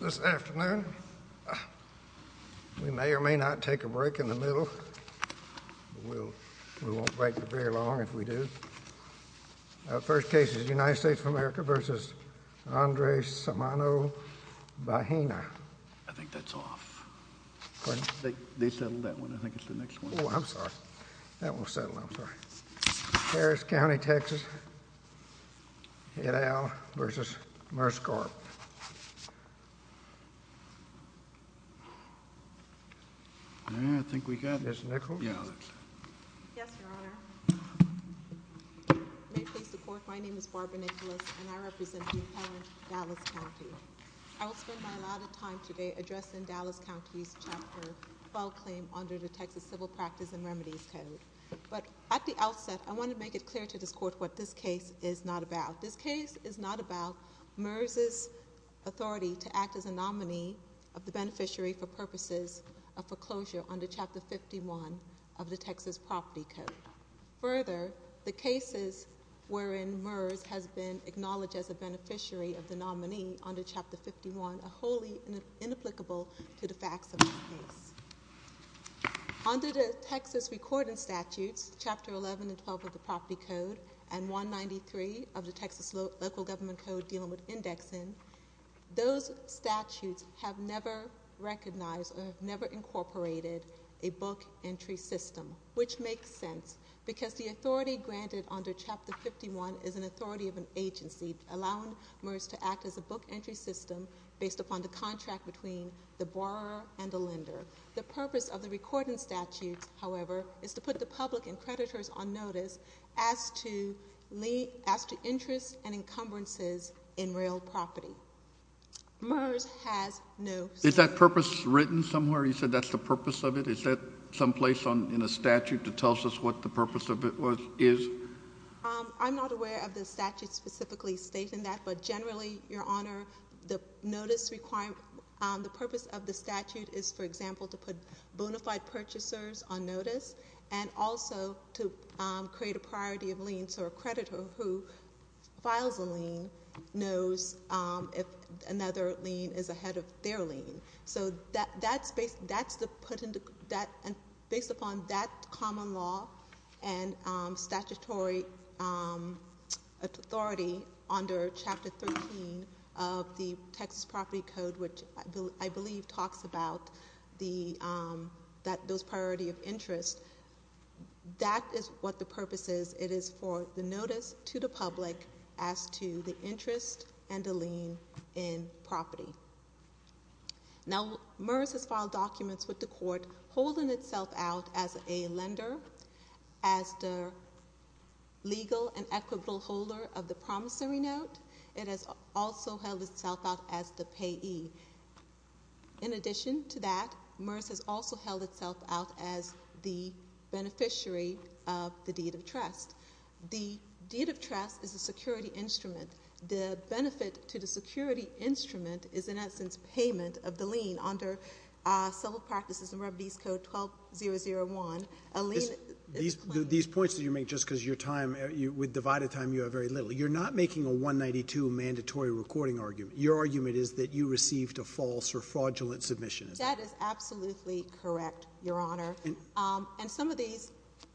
This afternoon, we may or may not take a break in the middle, but we won't break for very long if we do. Our first case is United States of America v. Andres Samano-Bahena. I think that's off. Pardon? They settled that one. I think it's the next one. Oh, I'm sorry. That one was settled. I'm sorry. Harris County, Texas, et al. v. MERSCORP I think we got it. Ms. Nichols? Yes, Your Honor. May it please the Court, my name is Barbara Nichols, and I represent Duke-Helen, Dallas County. I will spend my allotted time today addressing Dallas County's Chapter 12 claim under the Texas Civil Practice and Remedies Code. But at the outset, I want to make it clear to this Court what this case is not about. This case is not about MERS's authority to act as a nominee of the beneficiary for purposes of foreclosure under Chapter 51 of the Texas Property Code. Further, the cases wherein MERS has been acknowledged as a beneficiary of the nominee under Chapter 51 are wholly inapplicable to the facts of the case. Under the Texas Record and Statutes, Chapter 11 and 12 of the Property Code, and 193 of the Texas Local Government Code dealing with indexing, those statutes have never recognized or have never incorporated a book entry system, which makes sense, because the authority granted under Chapter 51 is an authority of an agency allowing MERS to act as a book entry system based upon the contract between the borrower and the lender. The purpose of the Record and Statutes, however, is to put the public and creditors on notice as to interests and encumbrances in real property. MERS has no say. Is that purpose written somewhere? You said that's the purpose of it. Is that someplace in a statute that tells us what the purpose of it is? I'm not aware of the statute specifically stating that, but generally, Your Honor, the purpose of the statute is, for example, to put bona fide purchasers on notice and also to create a priority of liens so a creditor who files a lien knows if another lien is ahead of their lien. Based upon that common law and statutory authority under Chapter 13 of the Texas Property Code, which I believe talks about those priorities of interest, that is what the purpose is. It is for the notice to the public as to the interest and the lien in property. Now, MERS has filed documents with the court holding itself out as a lender, as the legal and equitable holder of the promissory note. It has also held itself out as the payee. In addition to that, MERS has also held itself out as the beneficiary of the deed of trust. The deed of trust is a security instrument. The benefit to the security instrument is, in essence, payment of the lien. Under Civil Practices and Remedies Code 12001, a lien is claimed. These points that you make just because your time, with divided time, you have very little. You're not making a 192 mandatory recording argument. Your argument is that you received a false or fraudulent submission. That is absolutely correct, Your Honor. And some of these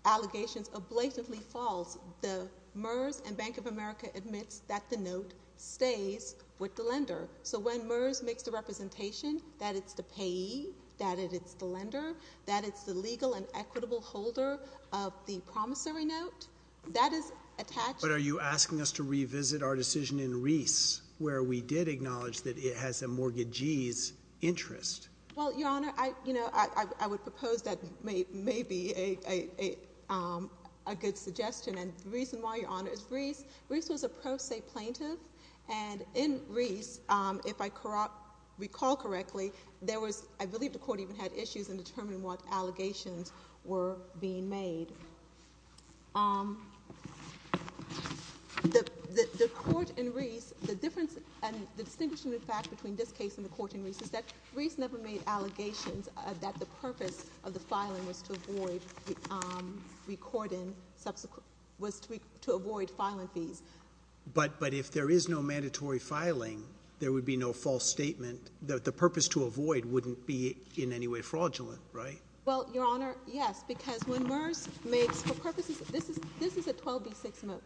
allegations are blatantly false. The MERS and Bank of America admits that the note stays with the lender. So when MERS makes the representation that it's the payee, that it's the lender, that it's the legal and equitable holder of the promissory note, that is attached. But are you asking us to revisit our decision in Reese, where we did acknowledge that it has a mortgagee's interest? Well, Your Honor, I would propose that may be a good suggestion. And the reason why, Your Honor, is Reese was a pro se plaintiff. And in Reese, if I recall correctly, I believe the court even had issues in determining what allegations were being made. The court in Reese, the difference and the distinction, in fact, between this case and the court in Reese, is that Reese never made allegations that the purpose of the filing was to avoid filing fees. But if there is no mandatory filing, there would be no false statement. The purpose to avoid wouldn't be in any way fraudulent, right? Well, Your Honor, yes. Because when MERS makes, for purposes, this is a 12B6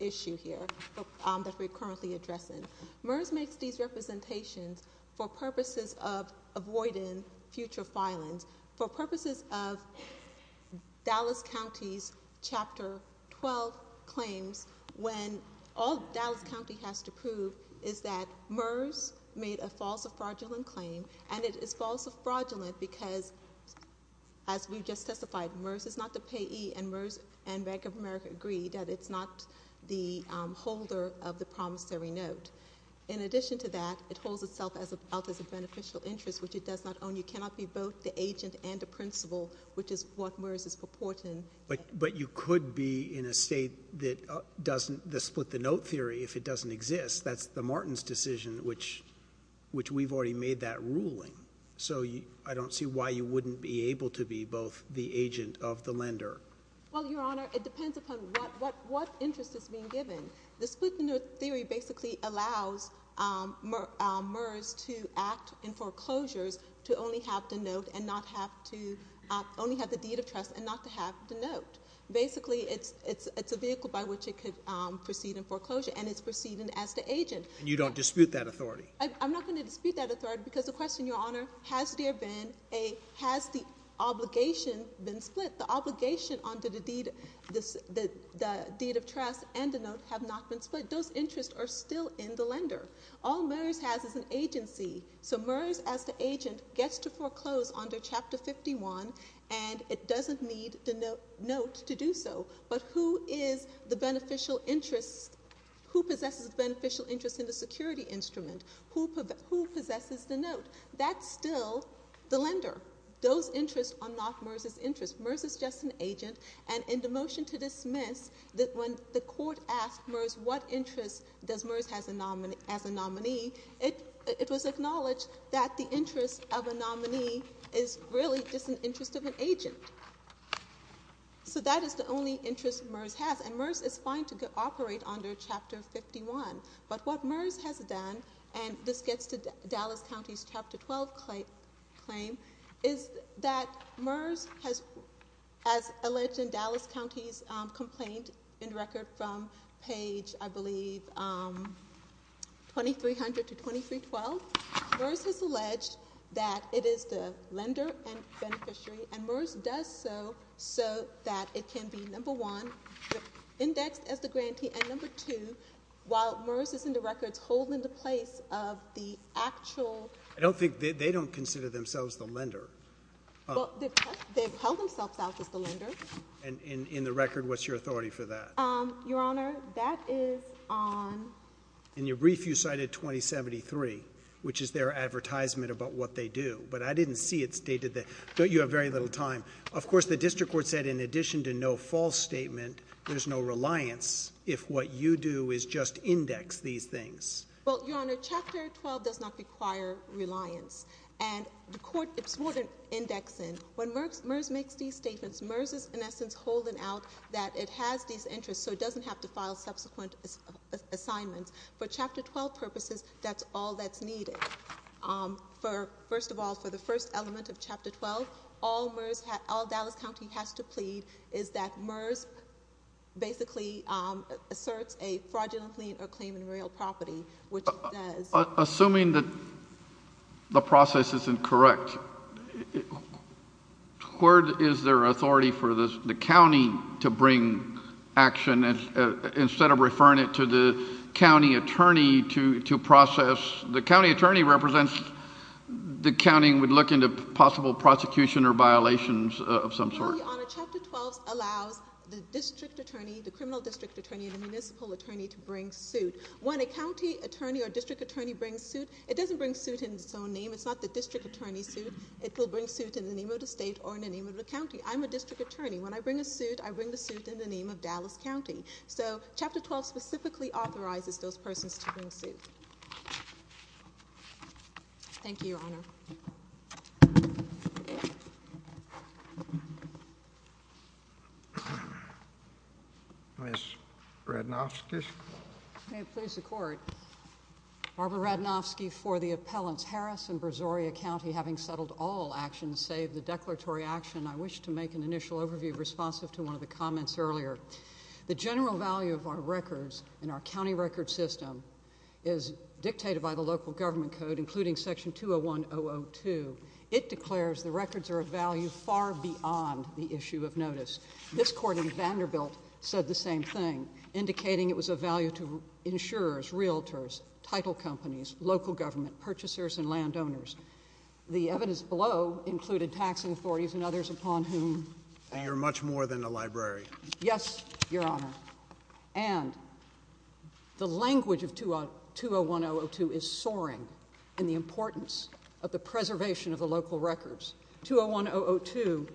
issue here that we're currently addressing. MERS makes these representations for purposes of avoiding future filings, for purposes of Dallas County's Chapter 12 claims, when all Dallas County has to prove is that MERS made a false or fraudulent claim. And it is false or fraudulent because, as we've just testified, MERS is not the payee, and MERS and Bank of America agree that it's not the holder of the promissory note. In addition to that, it holds itself out as a beneficial interest, which it does not own. You cannot be both the agent and the principal, which is what MERS is purporting. But you could be in a state that doesn't, the split the note theory, if it doesn't exist. That's the Martin's decision, which we've already made that ruling. So I don't see why you wouldn't be able to be both the agent of the lender. Well, Your Honor, it depends upon what interest is being given. The split the note theory basically allows MERS to act in foreclosures to only have the note and not have to, only have the deed of trust and not to have the note. Basically, it's a vehicle by which it could proceed in foreclosure, and it's proceeding as the agent. And you don't dispute that authority? I'm not going to dispute that authority because the question, Your Honor, has there been a, has the obligation been split? The obligation under the deed of trust and the note have not been split. Those interests are still in the lender. All MERS has is an agency. So MERS, as the agent, gets to foreclose under Chapter 51, and it doesn't need the note to do so. But who is the beneficial interest? Who possesses the beneficial interest in the security instrument? Who possesses the note? That's still the lender. Those interests are not MERS's interests. MERS is just an agent, and in the motion to dismiss, when the court asked MERS, what interest does MERS have as a nominee, it was acknowledged that the interest of a nominee is really just an interest of an agent. So that is the only interest MERS has, and MERS is fine to operate under Chapter 51. But what MERS has done, and this gets to Dallas County's Chapter 12 claim, is that MERS has, as alleged in Dallas County's complaint in record from page, I believe, 2300 to 2312, MERS has alleged that it is the lender and beneficiary, and MERS does so so that it can be, number one, indexed as the grantee, and number two, while MERS is in the records holding the place of the actual... I don't think they don't consider themselves the lender. They've held themselves out as the lender. And in the record, what's your authority for that? Your Honor, that is on... In your brief, you cited 2073, which is their advertisement about what they do, but I didn't see it stated there. You have very little time. Of course, the district court said in addition to no false statement, there's no reliance if what you do is just index these things. Well, Your Honor, Chapter 12 does not require reliance, and the court is more than indexing. When MERS makes these statements, MERS is, in essence, holding out that it has these interests so it doesn't have to file subsequent assignments. For Chapter 12 purposes, that's all that's needed. First of all, for the first element of Chapter 12, all Dallas County has to plead is that MERS basically asserts a fraudulent lien or claim in real property, which it does. Assuming that the process isn't correct, where is there authority for the county to bring action instead of referring it to the county attorney to process? The county attorney represents the county and would look into possible prosecution or violations of some sort. Well, Your Honor, Chapter 12 allows the district attorney, the criminal district attorney, and the municipal attorney to bring suit. When a county attorney or district attorney brings suit, it doesn't bring suit in its own name. It's not the district attorney's suit. It will bring suit in the name of the state or in the name of the county. I'm a district attorney. When I bring a suit, I bring the suit in the name of Dallas County. So Chapter 12 specifically authorizes those persons to bring suit. Thank you, Your Honor. Ms. Radnovsky. May it please the Court. Barbara Radnovsky for the appellants. Harris and Brazoria County having settled all actions save the declaratory action, I wish to make an initial overview responsive to one of the comments earlier. The general value of our records in our county record system is dictated by the local government code, including Section 201-002. It declares the records are of value far beyond the issue of notice. This court in Vanderbilt said the same thing, indicating it was of value to insurers, realtors, title companies, local government, purchasers, and landowners. The evidence below included taxing authorities and others upon whom. And you're much more than a librarian. Yes, Your Honor. And the language of 201-002 is soaring in the importance of the preservation of the local records. 201-002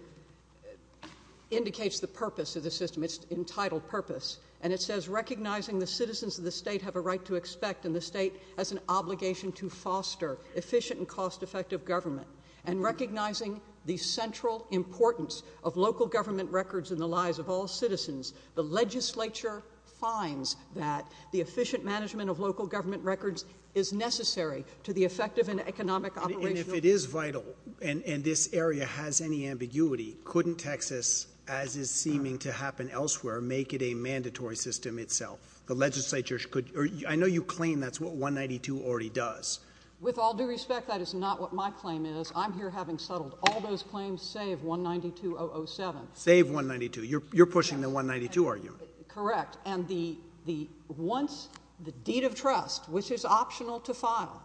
indicates the purpose of the system. It's entitled purpose. And it says recognizing the citizens of the state have a right to expect and the state has an obligation to foster efficient and cost-effective government. And recognizing the central importance of local government records in the lives of all citizens, the legislature finds that the efficient management of local government records is necessary to the effective and economic operation. If it is vital and this area has any ambiguity, couldn't Texas, as is seeming to happen elsewhere, make it a mandatory system itself? I know you claim that's what 192 already does. With all due respect, that is not what my claim is. I'm here having settled all those claims save 192-007. Save 192. You're pushing the 192 argument. Correct. And once the deed of trust, which is optional to file,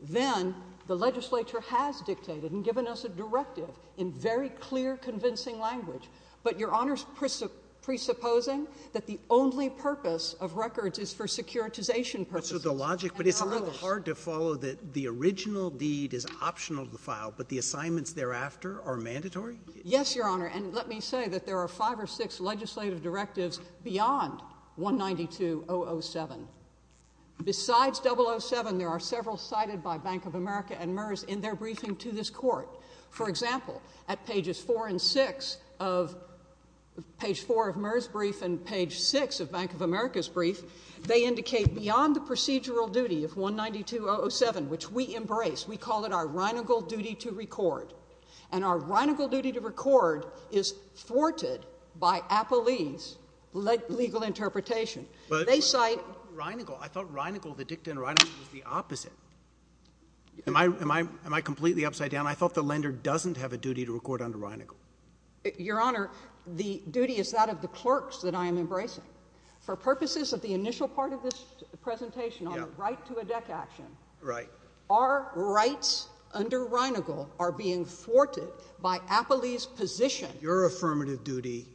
then the legislature has dictated and given us a directive in very clear, convincing language. But Your Honor is presupposing that the only purpose of records is for securitization purposes. But it's a little hard to follow that the original deed is optional to file, but the assignments thereafter are mandatory? Yes, Your Honor. And let me say that there are five or six legislative directives beyond 192-007. Besides 007, there are several cited by Bank of America and MERS in their briefing to this court. For example, at pages 4 and 6 of page 4 of MERS' brief and page 6 of Bank of America's brief, they indicate beyond the procedural duty of 192-007, which we embrace, we call it our reinegal duty to record. And our reinegal duty to record is thwarted by Appellee's legal interpretation. But I thought reinegal, the dicta in reinegal was the opposite. Am I completely upside down? I thought the lender doesn't have a duty to record under reinegal. Your Honor, the duty is that of the clerks that I am embracing. For purposes of the initial part of this presentation on the right to a deck action. Right. Our rights under reinegal are being thwarted by Appellee's position. Your affirmative duty.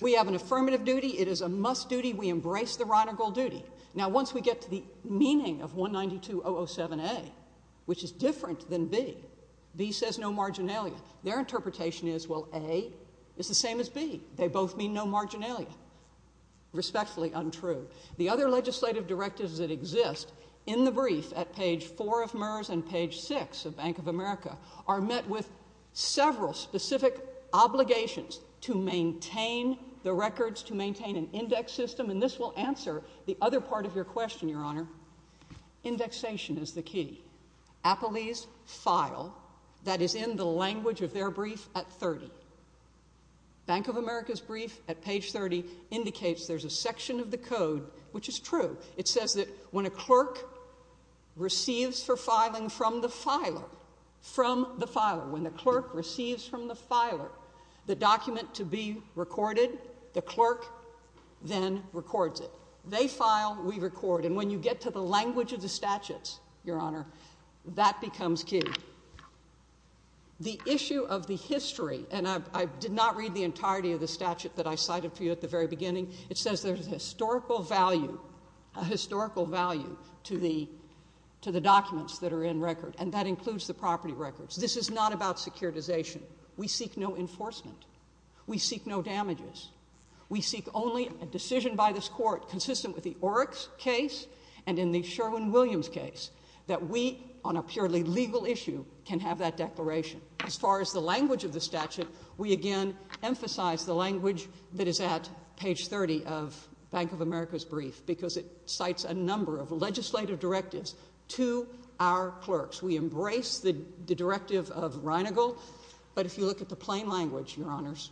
We have an affirmative duty. It is a must duty. We embrace the reinegal duty. Now, once we get to the meaning of 192-007A, which is different than B, B says no marginalia. Their interpretation is, well, A is the same as B. They both mean no marginalia. Respectfully untrue. The other legislative directives that exist in the brief at page 4 of MERS and page 6 of Bank of America are met with several specific obligations to maintain the records, to maintain an index system. And this will answer the other part of your question, Your Honor. Indexation is the key. Appellee's file that is in the language of their brief at 30. Bank of America's brief at page 30 indicates there's a section of the code which is true. It says that when a clerk receives for filing from the filer, from the filer, when the clerk receives from the filer the document to be recorded, the clerk then records it. They file. We record. And when you get to the language of the statutes, Your Honor, that becomes key. The issue of the history, and I did not read the entirety of the statute that I cited for you at the very beginning, it says there's a historical value, a historical value to the documents that are in record, and that includes the property records. This is not about securitization. We seek no enforcement. We seek no damages. We seek only a decision by this court consistent with the Oryx case and in the Sherwin-Williams case that we, on a purely legal issue, can have that declaration. As far as the language of the statute, we again emphasize the language that is at page 30 of Bank of America's brief because it cites a number of legislative directives to our clerks. We embrace the directive of Reinigle, but if you look at the plain language, Your Honors,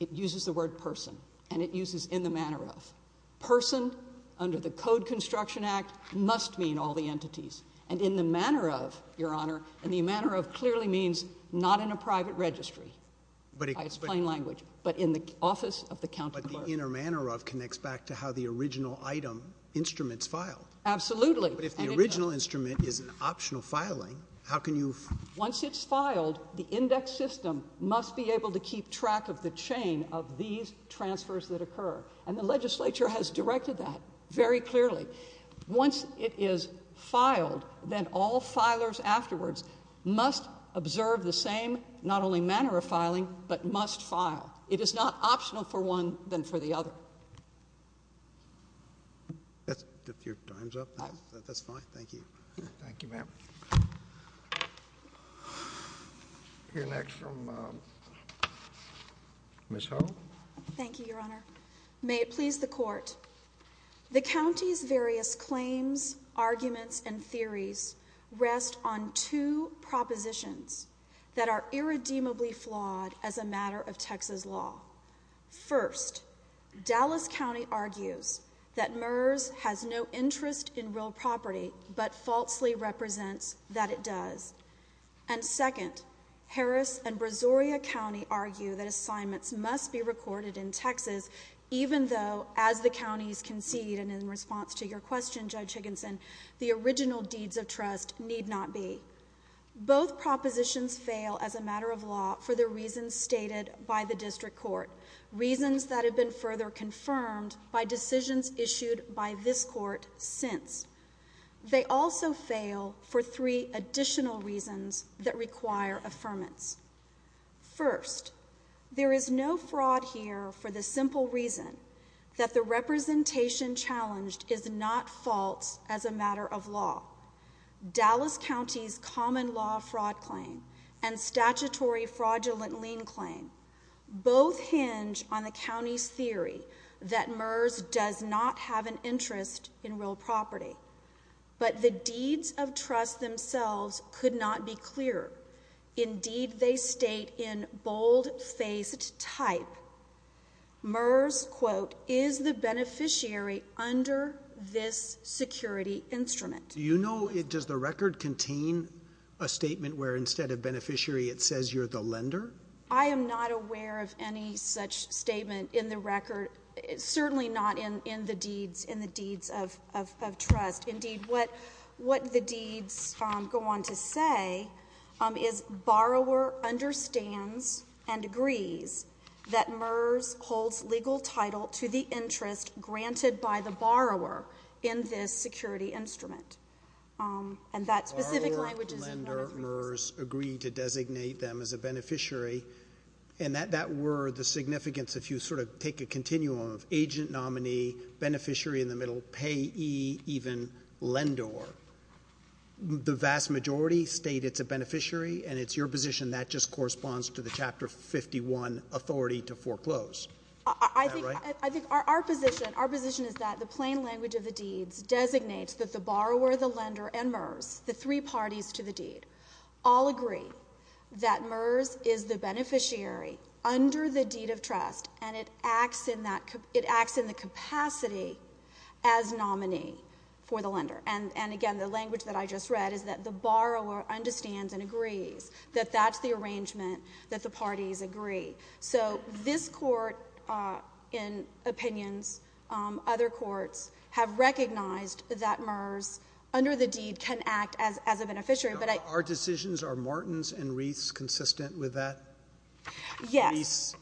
it uses the word person, and it uses in the manner of. Person under the Code Construction Act must mean all the entities, and in the manner of, Your Honor, and the manner of clearly means not in a private registry by its plain language, but in the office of the county clerk. But the inner manner of connects back to how the original item instruments file. Absolutely. But if the original instrument is an optional filing, how can you? Once it's filed, the index system must be able to keep track of the chain of these transfers that occur, and the legislature has directed that very clearly. Once it is filed, then all filers afterwards must observe the same not only manner of filing, but must file. It is not optional for one than for the other. If your time's up, that's fine. Thank you. Thank you, ma'am. We'll hear next from Ms. Hull. Thank you, Your Honor. May it please the Court. The county's various claims, arguments, and theories rest on two propositions that are irredeemably flawed as a matter of Texas law. First, Dallas County argues that MERS has no interest in real property, but falsely represents that it does. And second, Harris and Brazoria County argue that assignments must be recorded in Texas, even though, as the counties concede, and in response to your question, Judge Higginson, the original deeds of trust need not be. Both propositions fail as a matter of law for the reasons stated by the district court, reasons that have been further confirmed by decisions issued by this court since. They also fail for three additional reasons that require affirmance. First, there is no fraud here for the simple reason that the representation challenged is not false as a matter of law. Dallas County's common law fraud claim and statutory fraudulent lien claim both hinge on the county's theory that MERS does not have an interest in real property. But the deeds of trust themselves could not be clearer. Indeed, they state in bold-faced type, MERS, quote, is the beneficiary under this security instrument. Do you know, does the record contain a statement where instead of beneficiary it says you're the lender? I am not aware of any such statement in the record, certainly not in the deeds of trust. Indeed, what the deeds go on to say is, borrower understands and agrees that MERS holds legal title to the interest granted by the borrower in this security instrument. Borrower, lender, MERS agree to designate them as a beneficiary, and that were the significance if you sort of take a continuum of agent, nominee, beneficiary in the middle, payee, even lender. The vast majority state it's a beneficiary, and it's your position that just corresponds to the Chapter 51 authority to foreclose. Is that right? I think our position is that the plain language of the deeds designates that the borrower, the lender, and MERS, the three parties to the deed, all agree that MERS is the beneficiary under the deed of trust, and it acts in the capacity as nominee for the lender. And again, the language that I just read is that the borrower understands and agrees that that's the arrangement that the parties agree. So this Court in opinions, other courts, have recognized that MERS under the deed can act as a beneficiary. Are decisions, are Morton's and Reith's consistent with that? Yes. Reith's?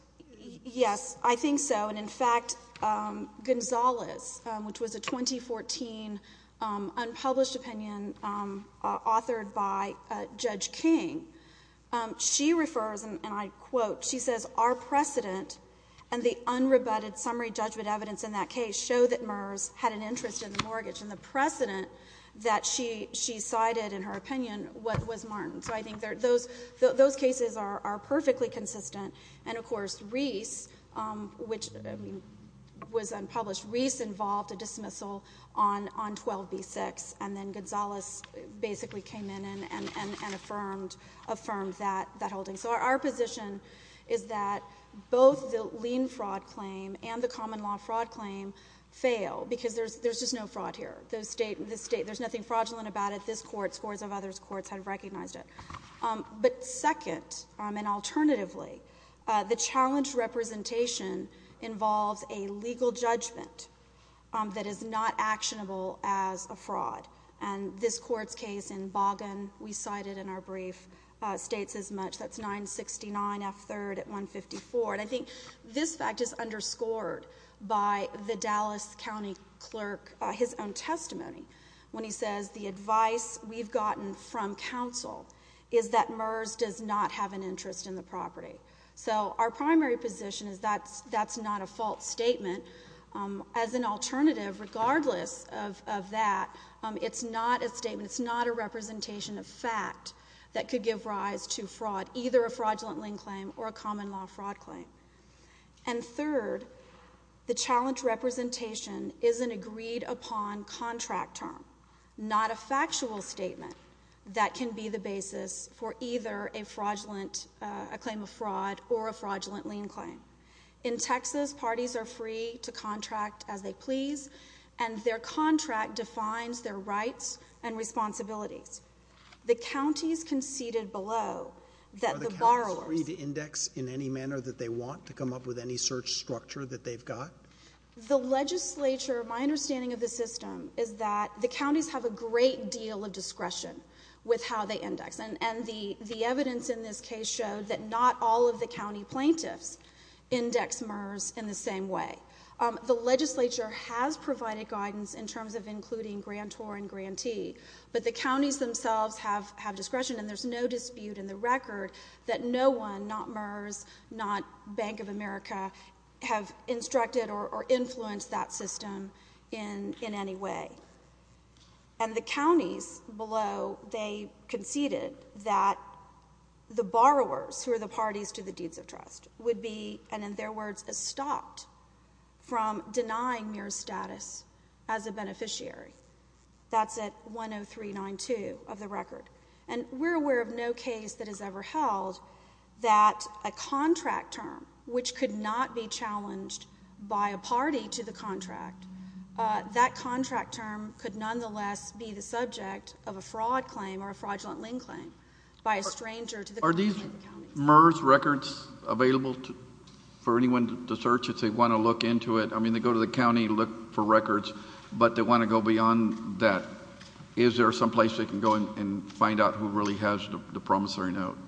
Yes, I think so. And in fact, Gonzales, which was a 2014 unpublished opinion authored by Judge King, she refers, and I quote, she says, our precedent and the unrebutted summary judgment evidence in that case show that MERS had an interest in the mortgage. And the precedent that she cited in her opinion was Morton. So I think those cases are perfectly consistent. And, of course, Reith's, which was unpublished, Reith's involved a dismissal on 12B6, and then Gonzales basically came in and affirmed that holding. So our position is that both the lien fraud claim and the common law fraud claim fail because there's just no fraud here. There's nothing fraudulent about it. This Court, scores of other courts have recognized it. But second, and alternatively, the challenge representation involves a legal judgment that is not actionable as a fraud. And this Court's case in Boggan, we cited in our brief, states as much. That's 969F3rd at 154. And I think this fact is underscored by the Dallas County clerk, his own testimony, when he says the advice we've gotten from counsel is that MERS does not have an interest in the property. So our primary position is that's not a false statement. As an alternative, regardless of that, it's not a statement. It's not a representation of fact that could give rise to fraud, either a fraudulent lien claim or a common law fraud claim. And third, the challenge representation is an agreed-upon contract term, not a factual statement that can be the basis for either a fraudulent claim of fraud or a fraudulent lien claim. In Texas, parties are free to contract as they please, and their contract defines their rights and responsibilities. The counties conceded below that the borrowers— Are the counties free to index in any manner that they want to come up with any search structure that they've got? The legislature, my understanding of the system, is that the counties have a great deal of discretion with how they index. And the evidence in this case showed that not all of the county plaintiffs index MERS in the same way. The legislature has provided guidance in terms of including grantor and grantee, but the counties themselves have discretion, and there's no dispute in the record that no one, not MERS, not Bank of America, have instructed or influenced that system in any way. And the counties below, they conceded that the borrowers, who are the parties to the deeds of trust, would be, and in their words, stopped from denying MERS status as a beneficiary. That's at 103.92 of the record. And we're aware of no case that has ever held that a contract term, which could not be challenged by a party to the contract, that contract term could nonetheless be the subject of a fraud claim or a fraudulent lien claim by a stranger to the county. Are these MERS records available for anyone to search if they want to look into it? I mean, they go to the county, look for records, but they want to go beyond that. Is there some place they can go and find out who really has the promissory note?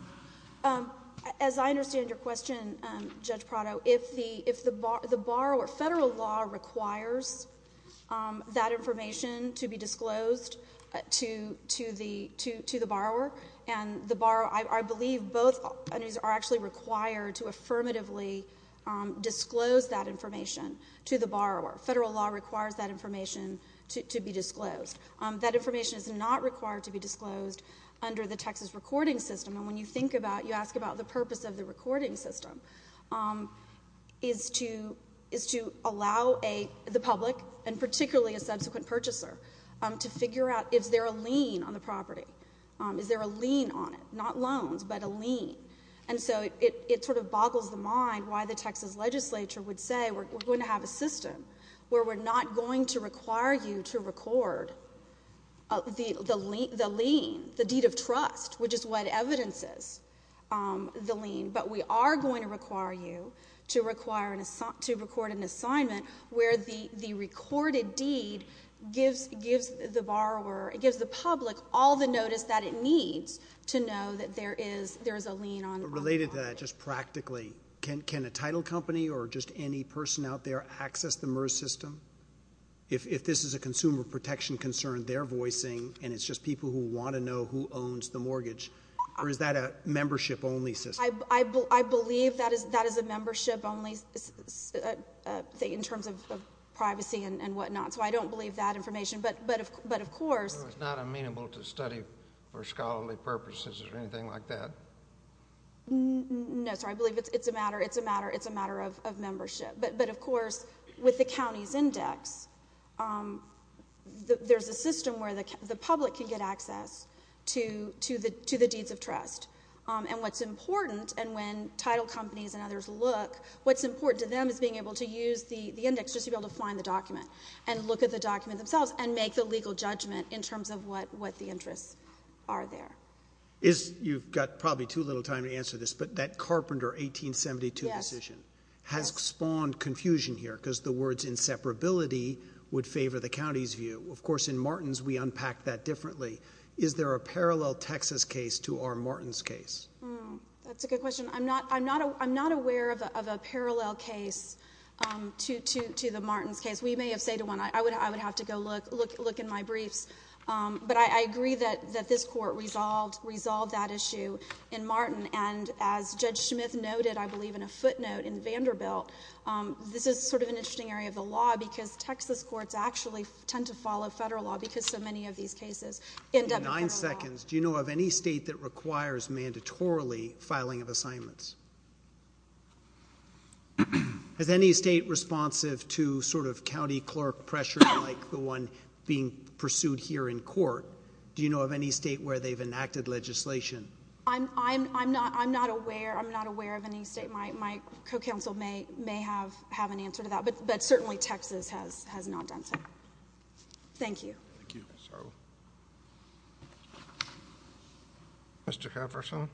As I understand your question, Judge Prado, if the borrower, federal law requires that information to be disclosed to the borrower, and I believe both entities are actually required to affirmatively disclose that information to the borrower. Federal law requires that information to be disclosed. That information is not required to be disclosed under the Texas recording system. And when you think about it, you ask about the purpose of the recording system, is to allow the public, and particularly a subsequent purchaser, to figure out is there a lien on the property? Is there a lien on it? Not loans, but a lien. And so it sort of boggles the mind why the Texas legislature would say we're going to have a system where we're not going to require you to record the lien, the deed of trust, which is what evidence is, the lien, but we are going to require you to record an assignment where the recorded deed gives the borrower, gives the public all the notice that it needs to know that there is a lien on the property. Related to that, just practically, can a title company or just any person out there access the MERS system? If this is a consumer protection concern, they're voicing, and it's just people who want to know who owns the mortgage, or is that a membership-only system? I believe that is a membership-only thing in terms of privacy and whatnot, so I don't believe that information. It's not amenable to study for scholarly purposes or anything like that? No, sir. I believe it's a matter of membership. But, of course, with the county's index, there's a system where the public can get access to the deeds of trust. And what's important, and when title companies and others look, what's important to them is being able to use the index just to be able to find the document and look at the document themselves and make the legal judgment in terms of what the interests are there. You've got probably too little time to answer this, but that Carpenter 1872 decision has spawned confusion here because the words inseparability would favor the county's view. Of course, in Martins, we unpack that differently. Is there a parallel Texas case to our Martins case? That's a good question. I'm not aware of a parallel case to the Martins case. We may have said one. I would have to go look in my briefs. But I agree that this court resolved that issue in Martin, and as Judge Smith noted, I believe, in a footnote in Vanderbilt, this is sort of an interesting area of the law because Texas courts actually tend to follow federal law because so many of these cases end up in federal law. In nine seconds, do you know of any state that requires mandatorily filing of assignments? Is any state responsive to sort of county clerk pressure like the one being pursued here in court? Do you know of any state where they've enacted legislation? I'm not aware. I'm not aware of any state. My co-counsel may have an answer to that, but certainly Texas has not done so. Thank you. Thank you. Mr. Carverson.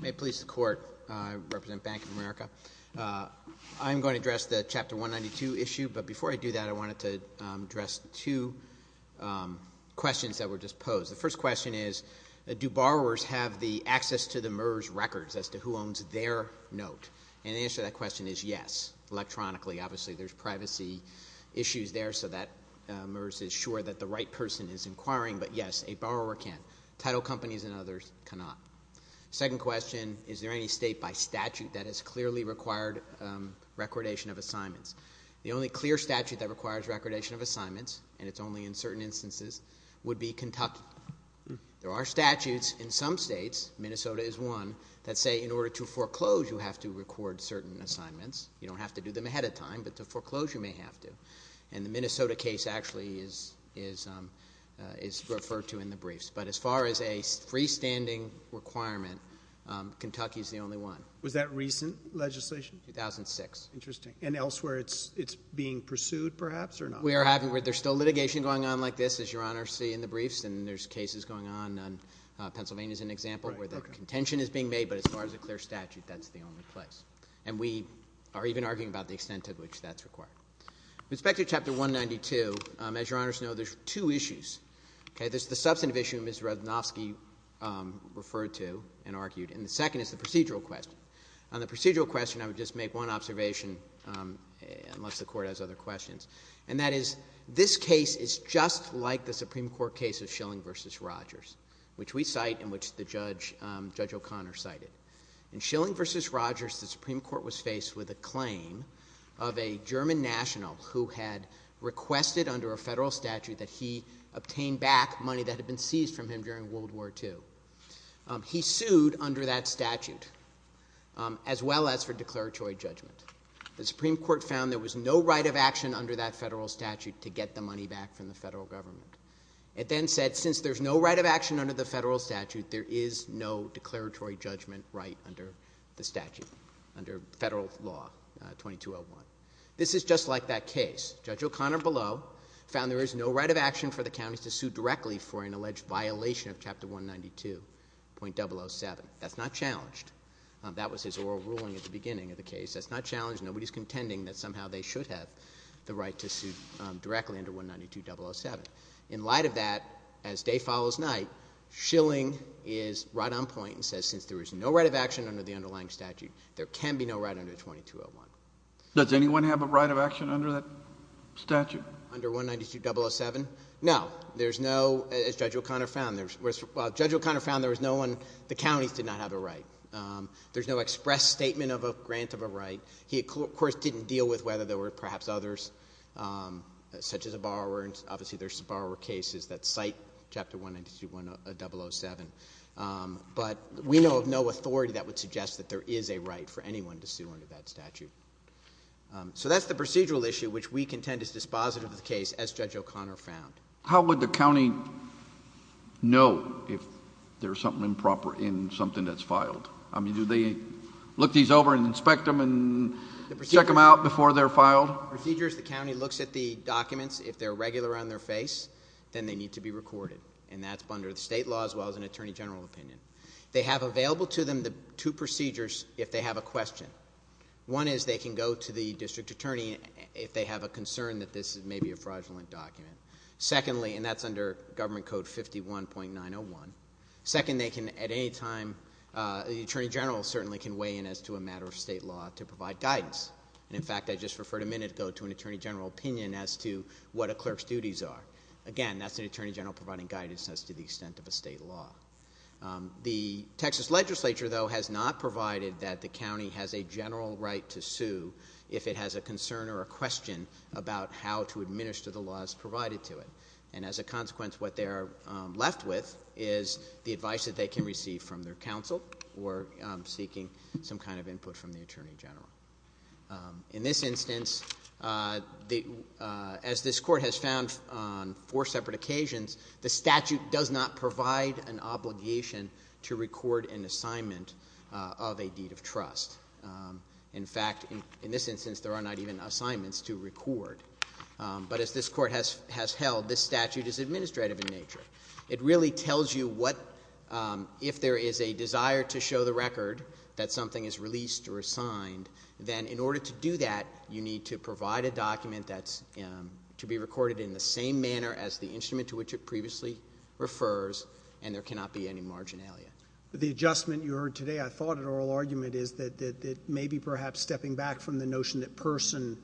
May it please the Court. I represent Bank of America. I'm going to address the Chapter 192 issue, but before I do that, I wanted to address two questions that were just posed. The first question is, do borrowers have the access to the MERS records as to who owns their note? And the answer to that question is yes. Electronically, obviously, there's privacy issues there, so that MERS is sure that the right person is inquiring. But yes, a borrower can. Title companies and others cannot. Second question, is there any state by statute that has clearly required recordation of assignments? The only clear statute that requires recordation of assignments, and it's only in certain instances, would be Kentucky. There are statutes in some states, Minnesota is one, that say in order to foreclose you have to record certain assignments. You don't have to do them ahead of time, but to foreclose you may have to. And the Minnesota case actually is referred to in the briefs. But as far as a freestanding requirement, Kentucky is the only one. Was that recent legislation? 2006. Interesting. And elsewhere it's being pursued, perhaps, or not? There's still litigation going on like this, as Your Honor will see in the briefs, and there's cases going on. Pennsylvania is an example where the contention is being made, but as far as a clear statute, that's the only place. And we are even arguing about the extent to which that's required. With respect to Chapter 192, as Your Honors know, there's two issues. Okay? There's the substantive issue Ms. Radnovsky referred to and argued, and the second is the procedural question. On the procedural question, I would just make one observation, unless the Court has other questions, and that is this case is just like the Supreme Court case of Schilling v. Rogers, which we cite and which Judge O'Connor cited. In Schilling v. Rogers, the Supreme Court was faced with a claim of a German national who had requested under a federal statute that he obtain back money that had been seized from him during World War II. He sued under that statute as well as for declaratory judgment. The Supreme Court found there was no right of action under that federal statute to get the money back from the federal government. It then said since there's no right of action under the federal statute, there is no declaratory judgment right under the statute, under federal law 2201. This is just like that case. Judge O'Connor below found there is no right of action for the counties to sue directly for an alleged violation of Chapter 192.007. That's not challenged. That was his oral ruling at the beginning of the case. That's not challenged. Nobody's contending that somehow they should have the right to sue directly under 192.007. In light of that, as day follows night, Schilling is right on point and says since there is no right of action under the underlying statute, there can be no right under 2201. Does anyone have a right of action under that statute? Under 192.007? No. There's no, as Judge O'Connor found, there was no one. The counties did not have a right. There's no express statement of a grant of a right. He, of course, didn't deal with whether there were perhaps others such as a borrower. Obviously, there's some borrower cases that cite Chapter 192.007. But we know of no authority that would suggest that there is a right for anyone to sue under that statute. So that's the procedural issue which we contend is dispositive of the case, as Judge O'Connor found. How would the county know if there's something improper in something that's filed? I mean, do they look these over and inspect them and check them out before they're filed? On procedures, the county looks at the documents. If they're regular on their face, then they need to be recorded. And that's under the state law as well as an attorney general opinion. They have available to them the two procedures if they have a question. One is they can go to the district attorney if they have a concern that this may be a fraudulent document. Secondly, and that's under Government Code 51.901. Second, they can at any time, the attorney general certainly can weigh in as to a matter of state law to provide guidance. And in fact, I just referred a minute ago to an attorney general opinion as to what a clerk's duties are. Again, that's an attorney general providing guidance as to the extent of a state law. The Texas legislature, though, has not provided that the county has a general right to sue if it has a concern or a question about how to administer the laws provided to it. And as a consequence, what they are left with is the advice that they can receive from their counsel or seeking some kind of input from the attorney general. In this instance, as this court has found on four separate occasions, the statute does not provide an obligation to record an assignment of a deed of trust. In fact, in this instance, there are not even assignments to record. But as this court has held, this statute is administrative in nature. It really tells you what, if there is a desire to show the record that something is released or assigned, then in order to do that, you need to provide a document that's to be recorded in the same manner as the instrument to which it previously refers, and there cannot be any marginalia. The adjustment you heard today, I thought, in oral argument, is that it may be perhaps stepping back from the notion that person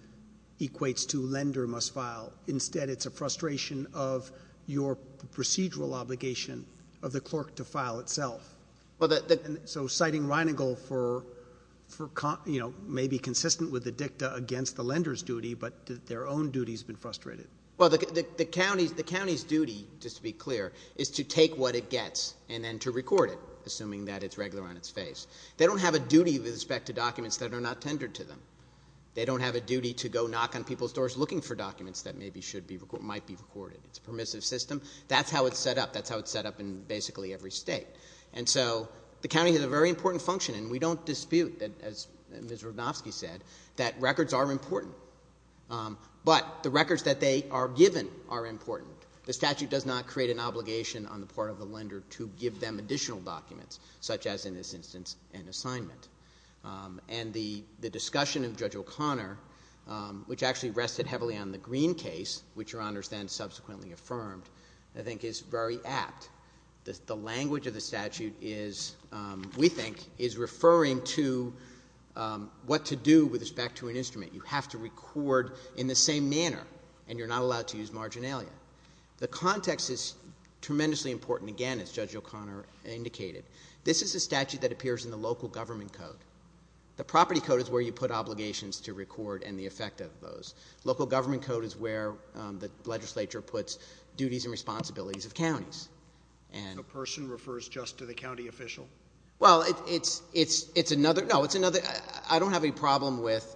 equates to lender must file. Instead, it's a frustration of your procedural obligation of the clerk to file itself. So citing Reinigle may be consistent with the dicta against the lender's duty, but their own duty has been frustrated. Well, the county's duty, just to be clear, is to take what it gets and then to record it, assuming that it's regular on its face. They don't have a duty with respect to documents that are not tendered to them. They don't have a duty to go knock on people's doors looking for documents that maybe might be recorded. It's a permissive system. That's how it's set up. That's how it's set up in basically every state. And so the county has a very important function, and we don't dispute, as Ms. Rudnovsky said, that records are important, but the records that they are given are important. The statute does not create an obligation on the part of the lender to give them additional documents, such as in this instance an assignment. And the discussion of Judge O'Connor, which actually rested heavily on the Green case, which Your Honors then subsequently affirmed, I think is very apt. The language of the statute is, we think, is referring to what to do with respect to an instrument. You have to record in the same manner, and you're not allowed to use marginalia. The context is tremendously important, again, as Judge O'Connor indicated. This is a statute that appears in the local government code. The property code is where you put obligations to record and the effect of those. Local government code is where the legislature puts duties and responsibilities of counties. A person refers just to the county official? Well, it's another. No, it's another. I don't have any problem with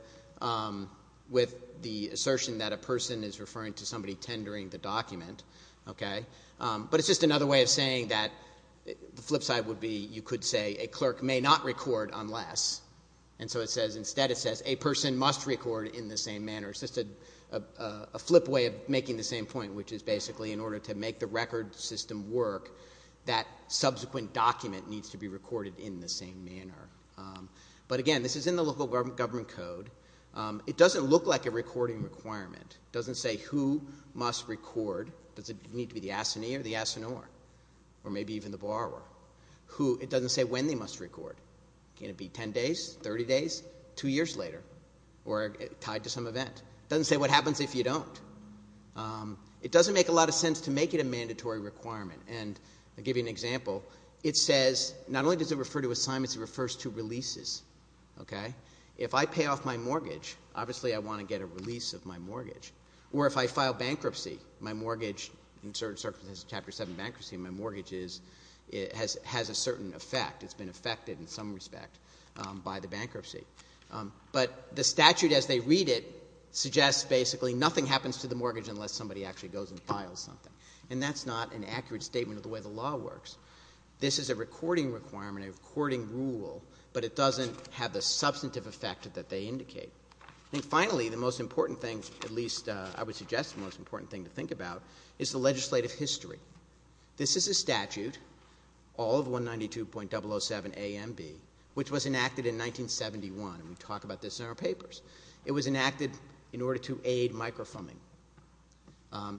the assertion that a person is referring to somebody tendering the document. But it's just another way of saying that the flip side would be, you could say, a clerk may not record unless, and so instead it says, a person must record in the same manner. It's just a flip way of making the same point, which is basically in order to make the record system work, that subsequent document needs to be recorded in the same manner. But again, this is in the local government code. It doesn't look like a recording requirement. It doesn't say who must record. Does it need to be the assignee or the assignor or maybe even the borrower? It doesn't say when they must record. Can it be 10 days, 30 days, two years later, or tied to some event? It doesn't say what happens if you don't. It doesn't make a lot of sense to make it a mandatory requirement. And I'll give you an example. If I pay off my mortgage, obviously I want to get a release of my mortgage. Or if I file bankruptcy, my mortgage in certain circumstances, Chapter 7 bankruptcy, my mortgage has a certain effect. It's been affected in some respect by the bankruptcy. But the statute as they read it suggests basically nothing happens to the mortgage unless somebody actually goes and files something. And that's not an accurate statement of the way the law works. This is a recording requirement, a recording rule, but it doesn't have the substantive effect that they indicate. And finally, the most important thing, at least I would suggest the most important thing to think about, is the legislative history. This is a statute, all of 192.007 AMB, which was enacted in 1971. We talk about this in our papers. It was enacted in order to aid microfilming.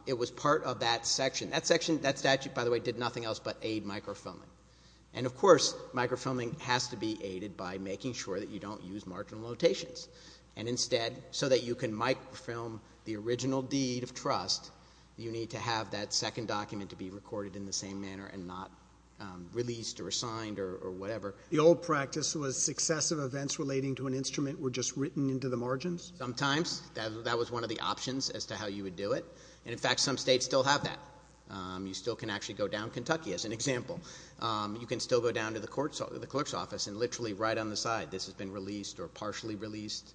It was part of that section. That section, that statute, by the way, did nothing else but aid microfilming. And, of course, microfilming has to be aided by making sure that you don't use marginal notations. And instead, so that you can microfilm the original deed of trust, you need to have that second document to be recorded in the same manner and not released or assigned or whatever. The old practice was successive events relating to an instrument were just written into the margins? Sometimes. That was one of the options as to how you would do it. And, in fact, some states still have that. You still can actually go down Kentucky as an example. You can still go down to the clerk's office and literally, right on the side, this has been released or partially released,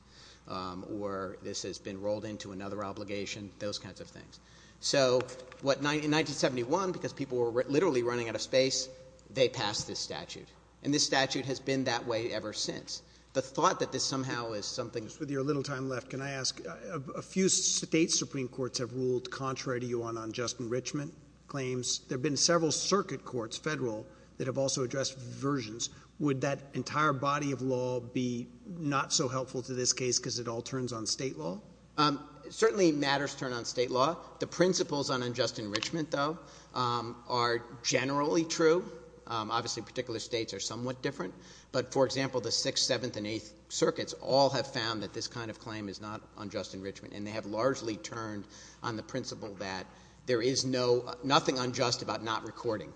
or this has been rolled into another obligation, those kinds of things. So in 1971, because people were literally running out of space, they passed this statute. And this statute has been that way ever since. The thought that this somehow is something. Just with your little time left, can I ask, a few state supreme courts have ruled contrary to you on unjust enrichment claims. There have been several circuit courts, federal, that have also addressed versions. Would that entire body of law be not so helpful to this case because it all turns on state law? Certainly matters turn on state law. The principles on unjust enrichment, though, are generally true. Obviously, particular states are somewhat different. But, for example, the 6th, 7th, and 8th circuits all have found that this kind of claim is not unjust enrichment. And they have largely turned on the principle that there is nothing unjust about not recording.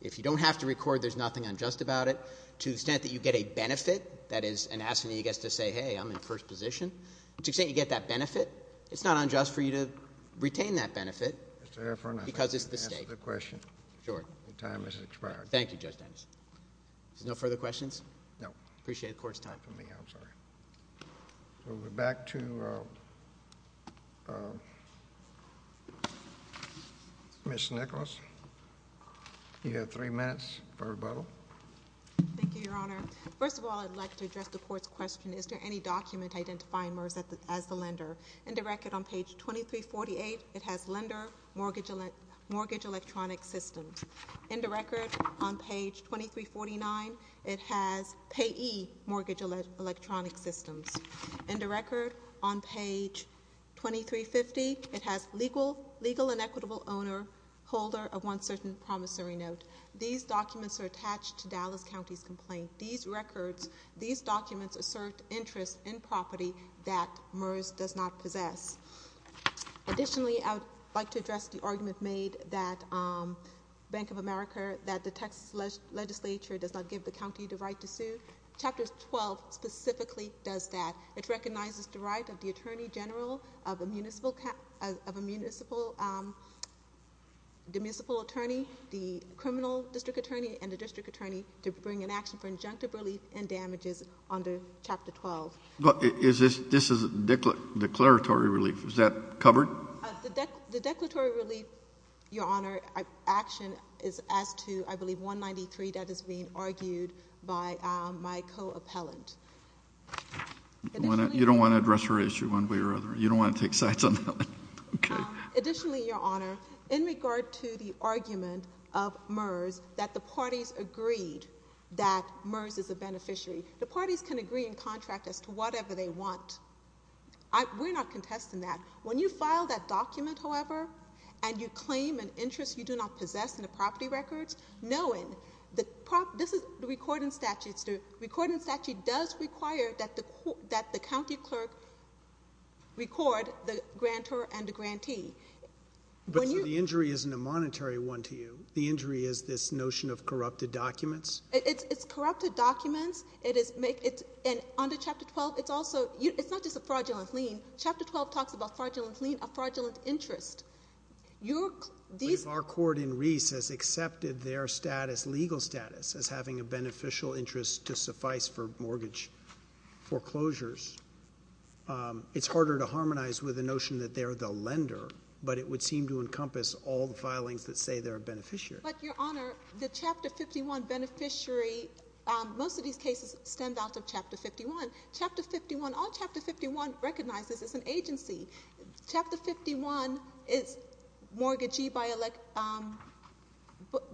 If you don't have to record, there's nothing unjust about it. To the extent that you get a benefit, that is, an assignee gets to say, hey, I'm in first position. To the extent you get that benefit, it's not unjust for you to retain that benefit because it's the state. Mr. Heffernan, I think you've answered the question. Sure. Your time has expired. Thank you, Judge Dennis. Is there no further questions? No. I appreciate the Court's time. Not for me, I'm sorry. We'll go back to Ms. Nicholas. You have three minutes for rebuttal. Thank you, Your Honor. First of all, I'd like to address the Court's question. Is there any document identifying MERS as the lender? In the record on page 2348, it has lender mortgage electronic systems. In the record on page 2349, it has payee mortgage electronic systems. In the record on page 2350, it has legal and equitable owner, holder of one certain promissory note. These documents are attached to Dallas County's complaint. These records, these documents assert interest in property that MERS does not possess. Additionally, I would like to address the argument made that Bank of America, that the Texas Legislature does not give the county the right to sue. Chapter 12 specifically does that. It recognizes the right of the attorney general, of a municipal attorney, the criminal district attorney, and the district attorney to bring an action for injunctive relief and damages under Chapter 12. This is a declaratory relief. Is that covered? The declaratory relief, Your Honor, action is as to, I believe, 193. That is being argued by my co-appellant. You don't want to address her issue one way or another? You don't want to take sides on that one? Additionally, Your Honor, in regard to the argument of MERS that the parties agreed that MERS is a beneficiary, the parties can agree in contract as to whatever they want. We're not contesting that. When you file that document, however, and you claim an interest you do not possess in the property records, knowing that this is the recording statute, the recording statute does require that the county clerk record the grantor and the grantee. But the injury isn't a monetary one to you. The injury is this notion of corrupted documents? It's corrupted documents. And under Chapter 12, it's not just a fraudulent lien. Chapter 12 talks about fraudulent lien, a fraudulent interest. Our court in Reese has accepted their legal status as having a beneficial interest to suffice for mortgage foreclosures. It's harder to harmonize with the notion that they're the lender, but it would seem to encompass all the filings that say they're a beneficiary. But, Your Honor, the Chapter 51 beneficiary, most of these cases stem out of Chapter 51. Chapter 51, all Chapter 51 recognizes is an agency. Chapter 51 is mortgagee by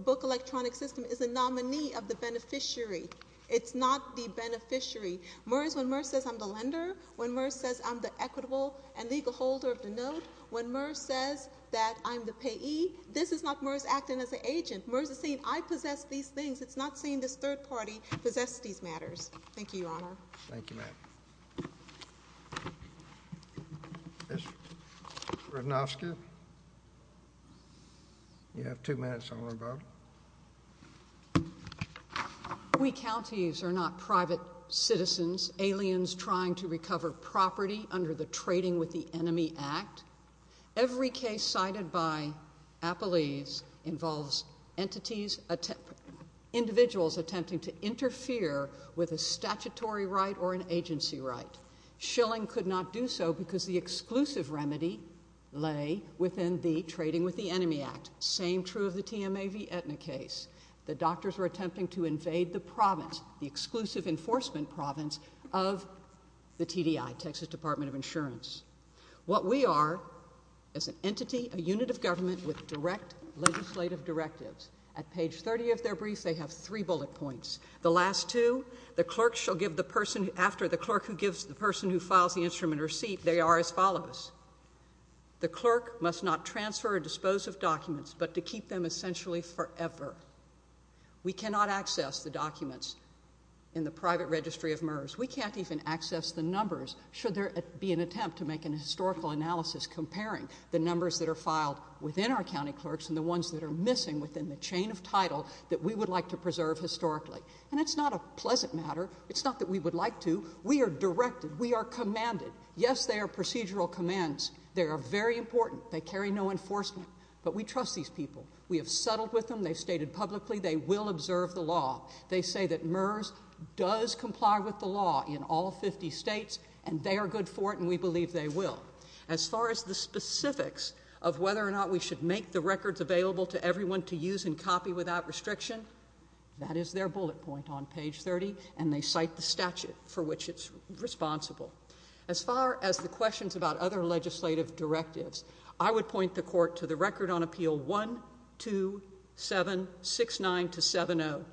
book electronic system is a nominee of the beneficiary. It's not the beneficiary. When MERS says I'm the lender, when MERS says I'm the equitable and legal holder of the note, when MERS says that I'm the payee, this is not MERS acting as an agent. MERS is saying I possess these things. It's not saying this third party possesses these matters. Thank you, Your Honor. Thank you, ma'am. Ms. Ratnovska? You have two minutes, Your Honor. Ms. Rosenberg? We counties are not private citizens, aliens trying to recover property under the Trading with the Enemy Act. Every case cited by Appelese involves entities, individuals attempting to interfere with a statutory right or an agency right. Schilling could not do so because the exclusive remedy lay within the Trading with the Enemy Act. Same true of the TMAV Aetna case. The doctors were attempting to invade the province, the exclusive enforcement province of the TDI, Texas Department of Insurance. What we are is an entity, a unit of government with direct legislative directives. At page 30 of their brief, they have three bullet points. The last two, the clerk shall give the person after the clerk who gives the person who files the instrument a receipt. They are as follows. The clerk must not transfer or dispose of documents but to keep them essentially forever. We cannot access the documents in the private registry of MERS. We can't even access the numbers should there be an attempt to make an historical analysis comparing the numbers that are filed within our county clerks and the ones that are missing within the chain of title that we would like to preserve historically. And it's not a pleasant matter. It's not that we would like to. We are directed. We are commanded. Yes, they are procedural commands. They are very important. They carry no enforcement. But we trust these people. We have settled with them. They've stated publicly they will observe the law. They say that MERS does comply with the law in all 50 states and they are good for it and we believe they will. As far as the specifics of whether or not we should make the records available to everyone to use and copy without restriction, that is their bullet point on page 30 and they cite the statute for which it's responsible. As far as the questions about other legislative directives, I would point the court to the Record on Appeal 12769-70,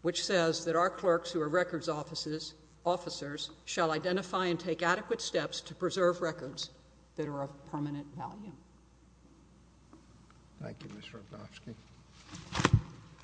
which says that our clerks who are records officers shall identify and take adequate steps to preserve records that are of permanent value. Thank you, Ms. Rogofsky.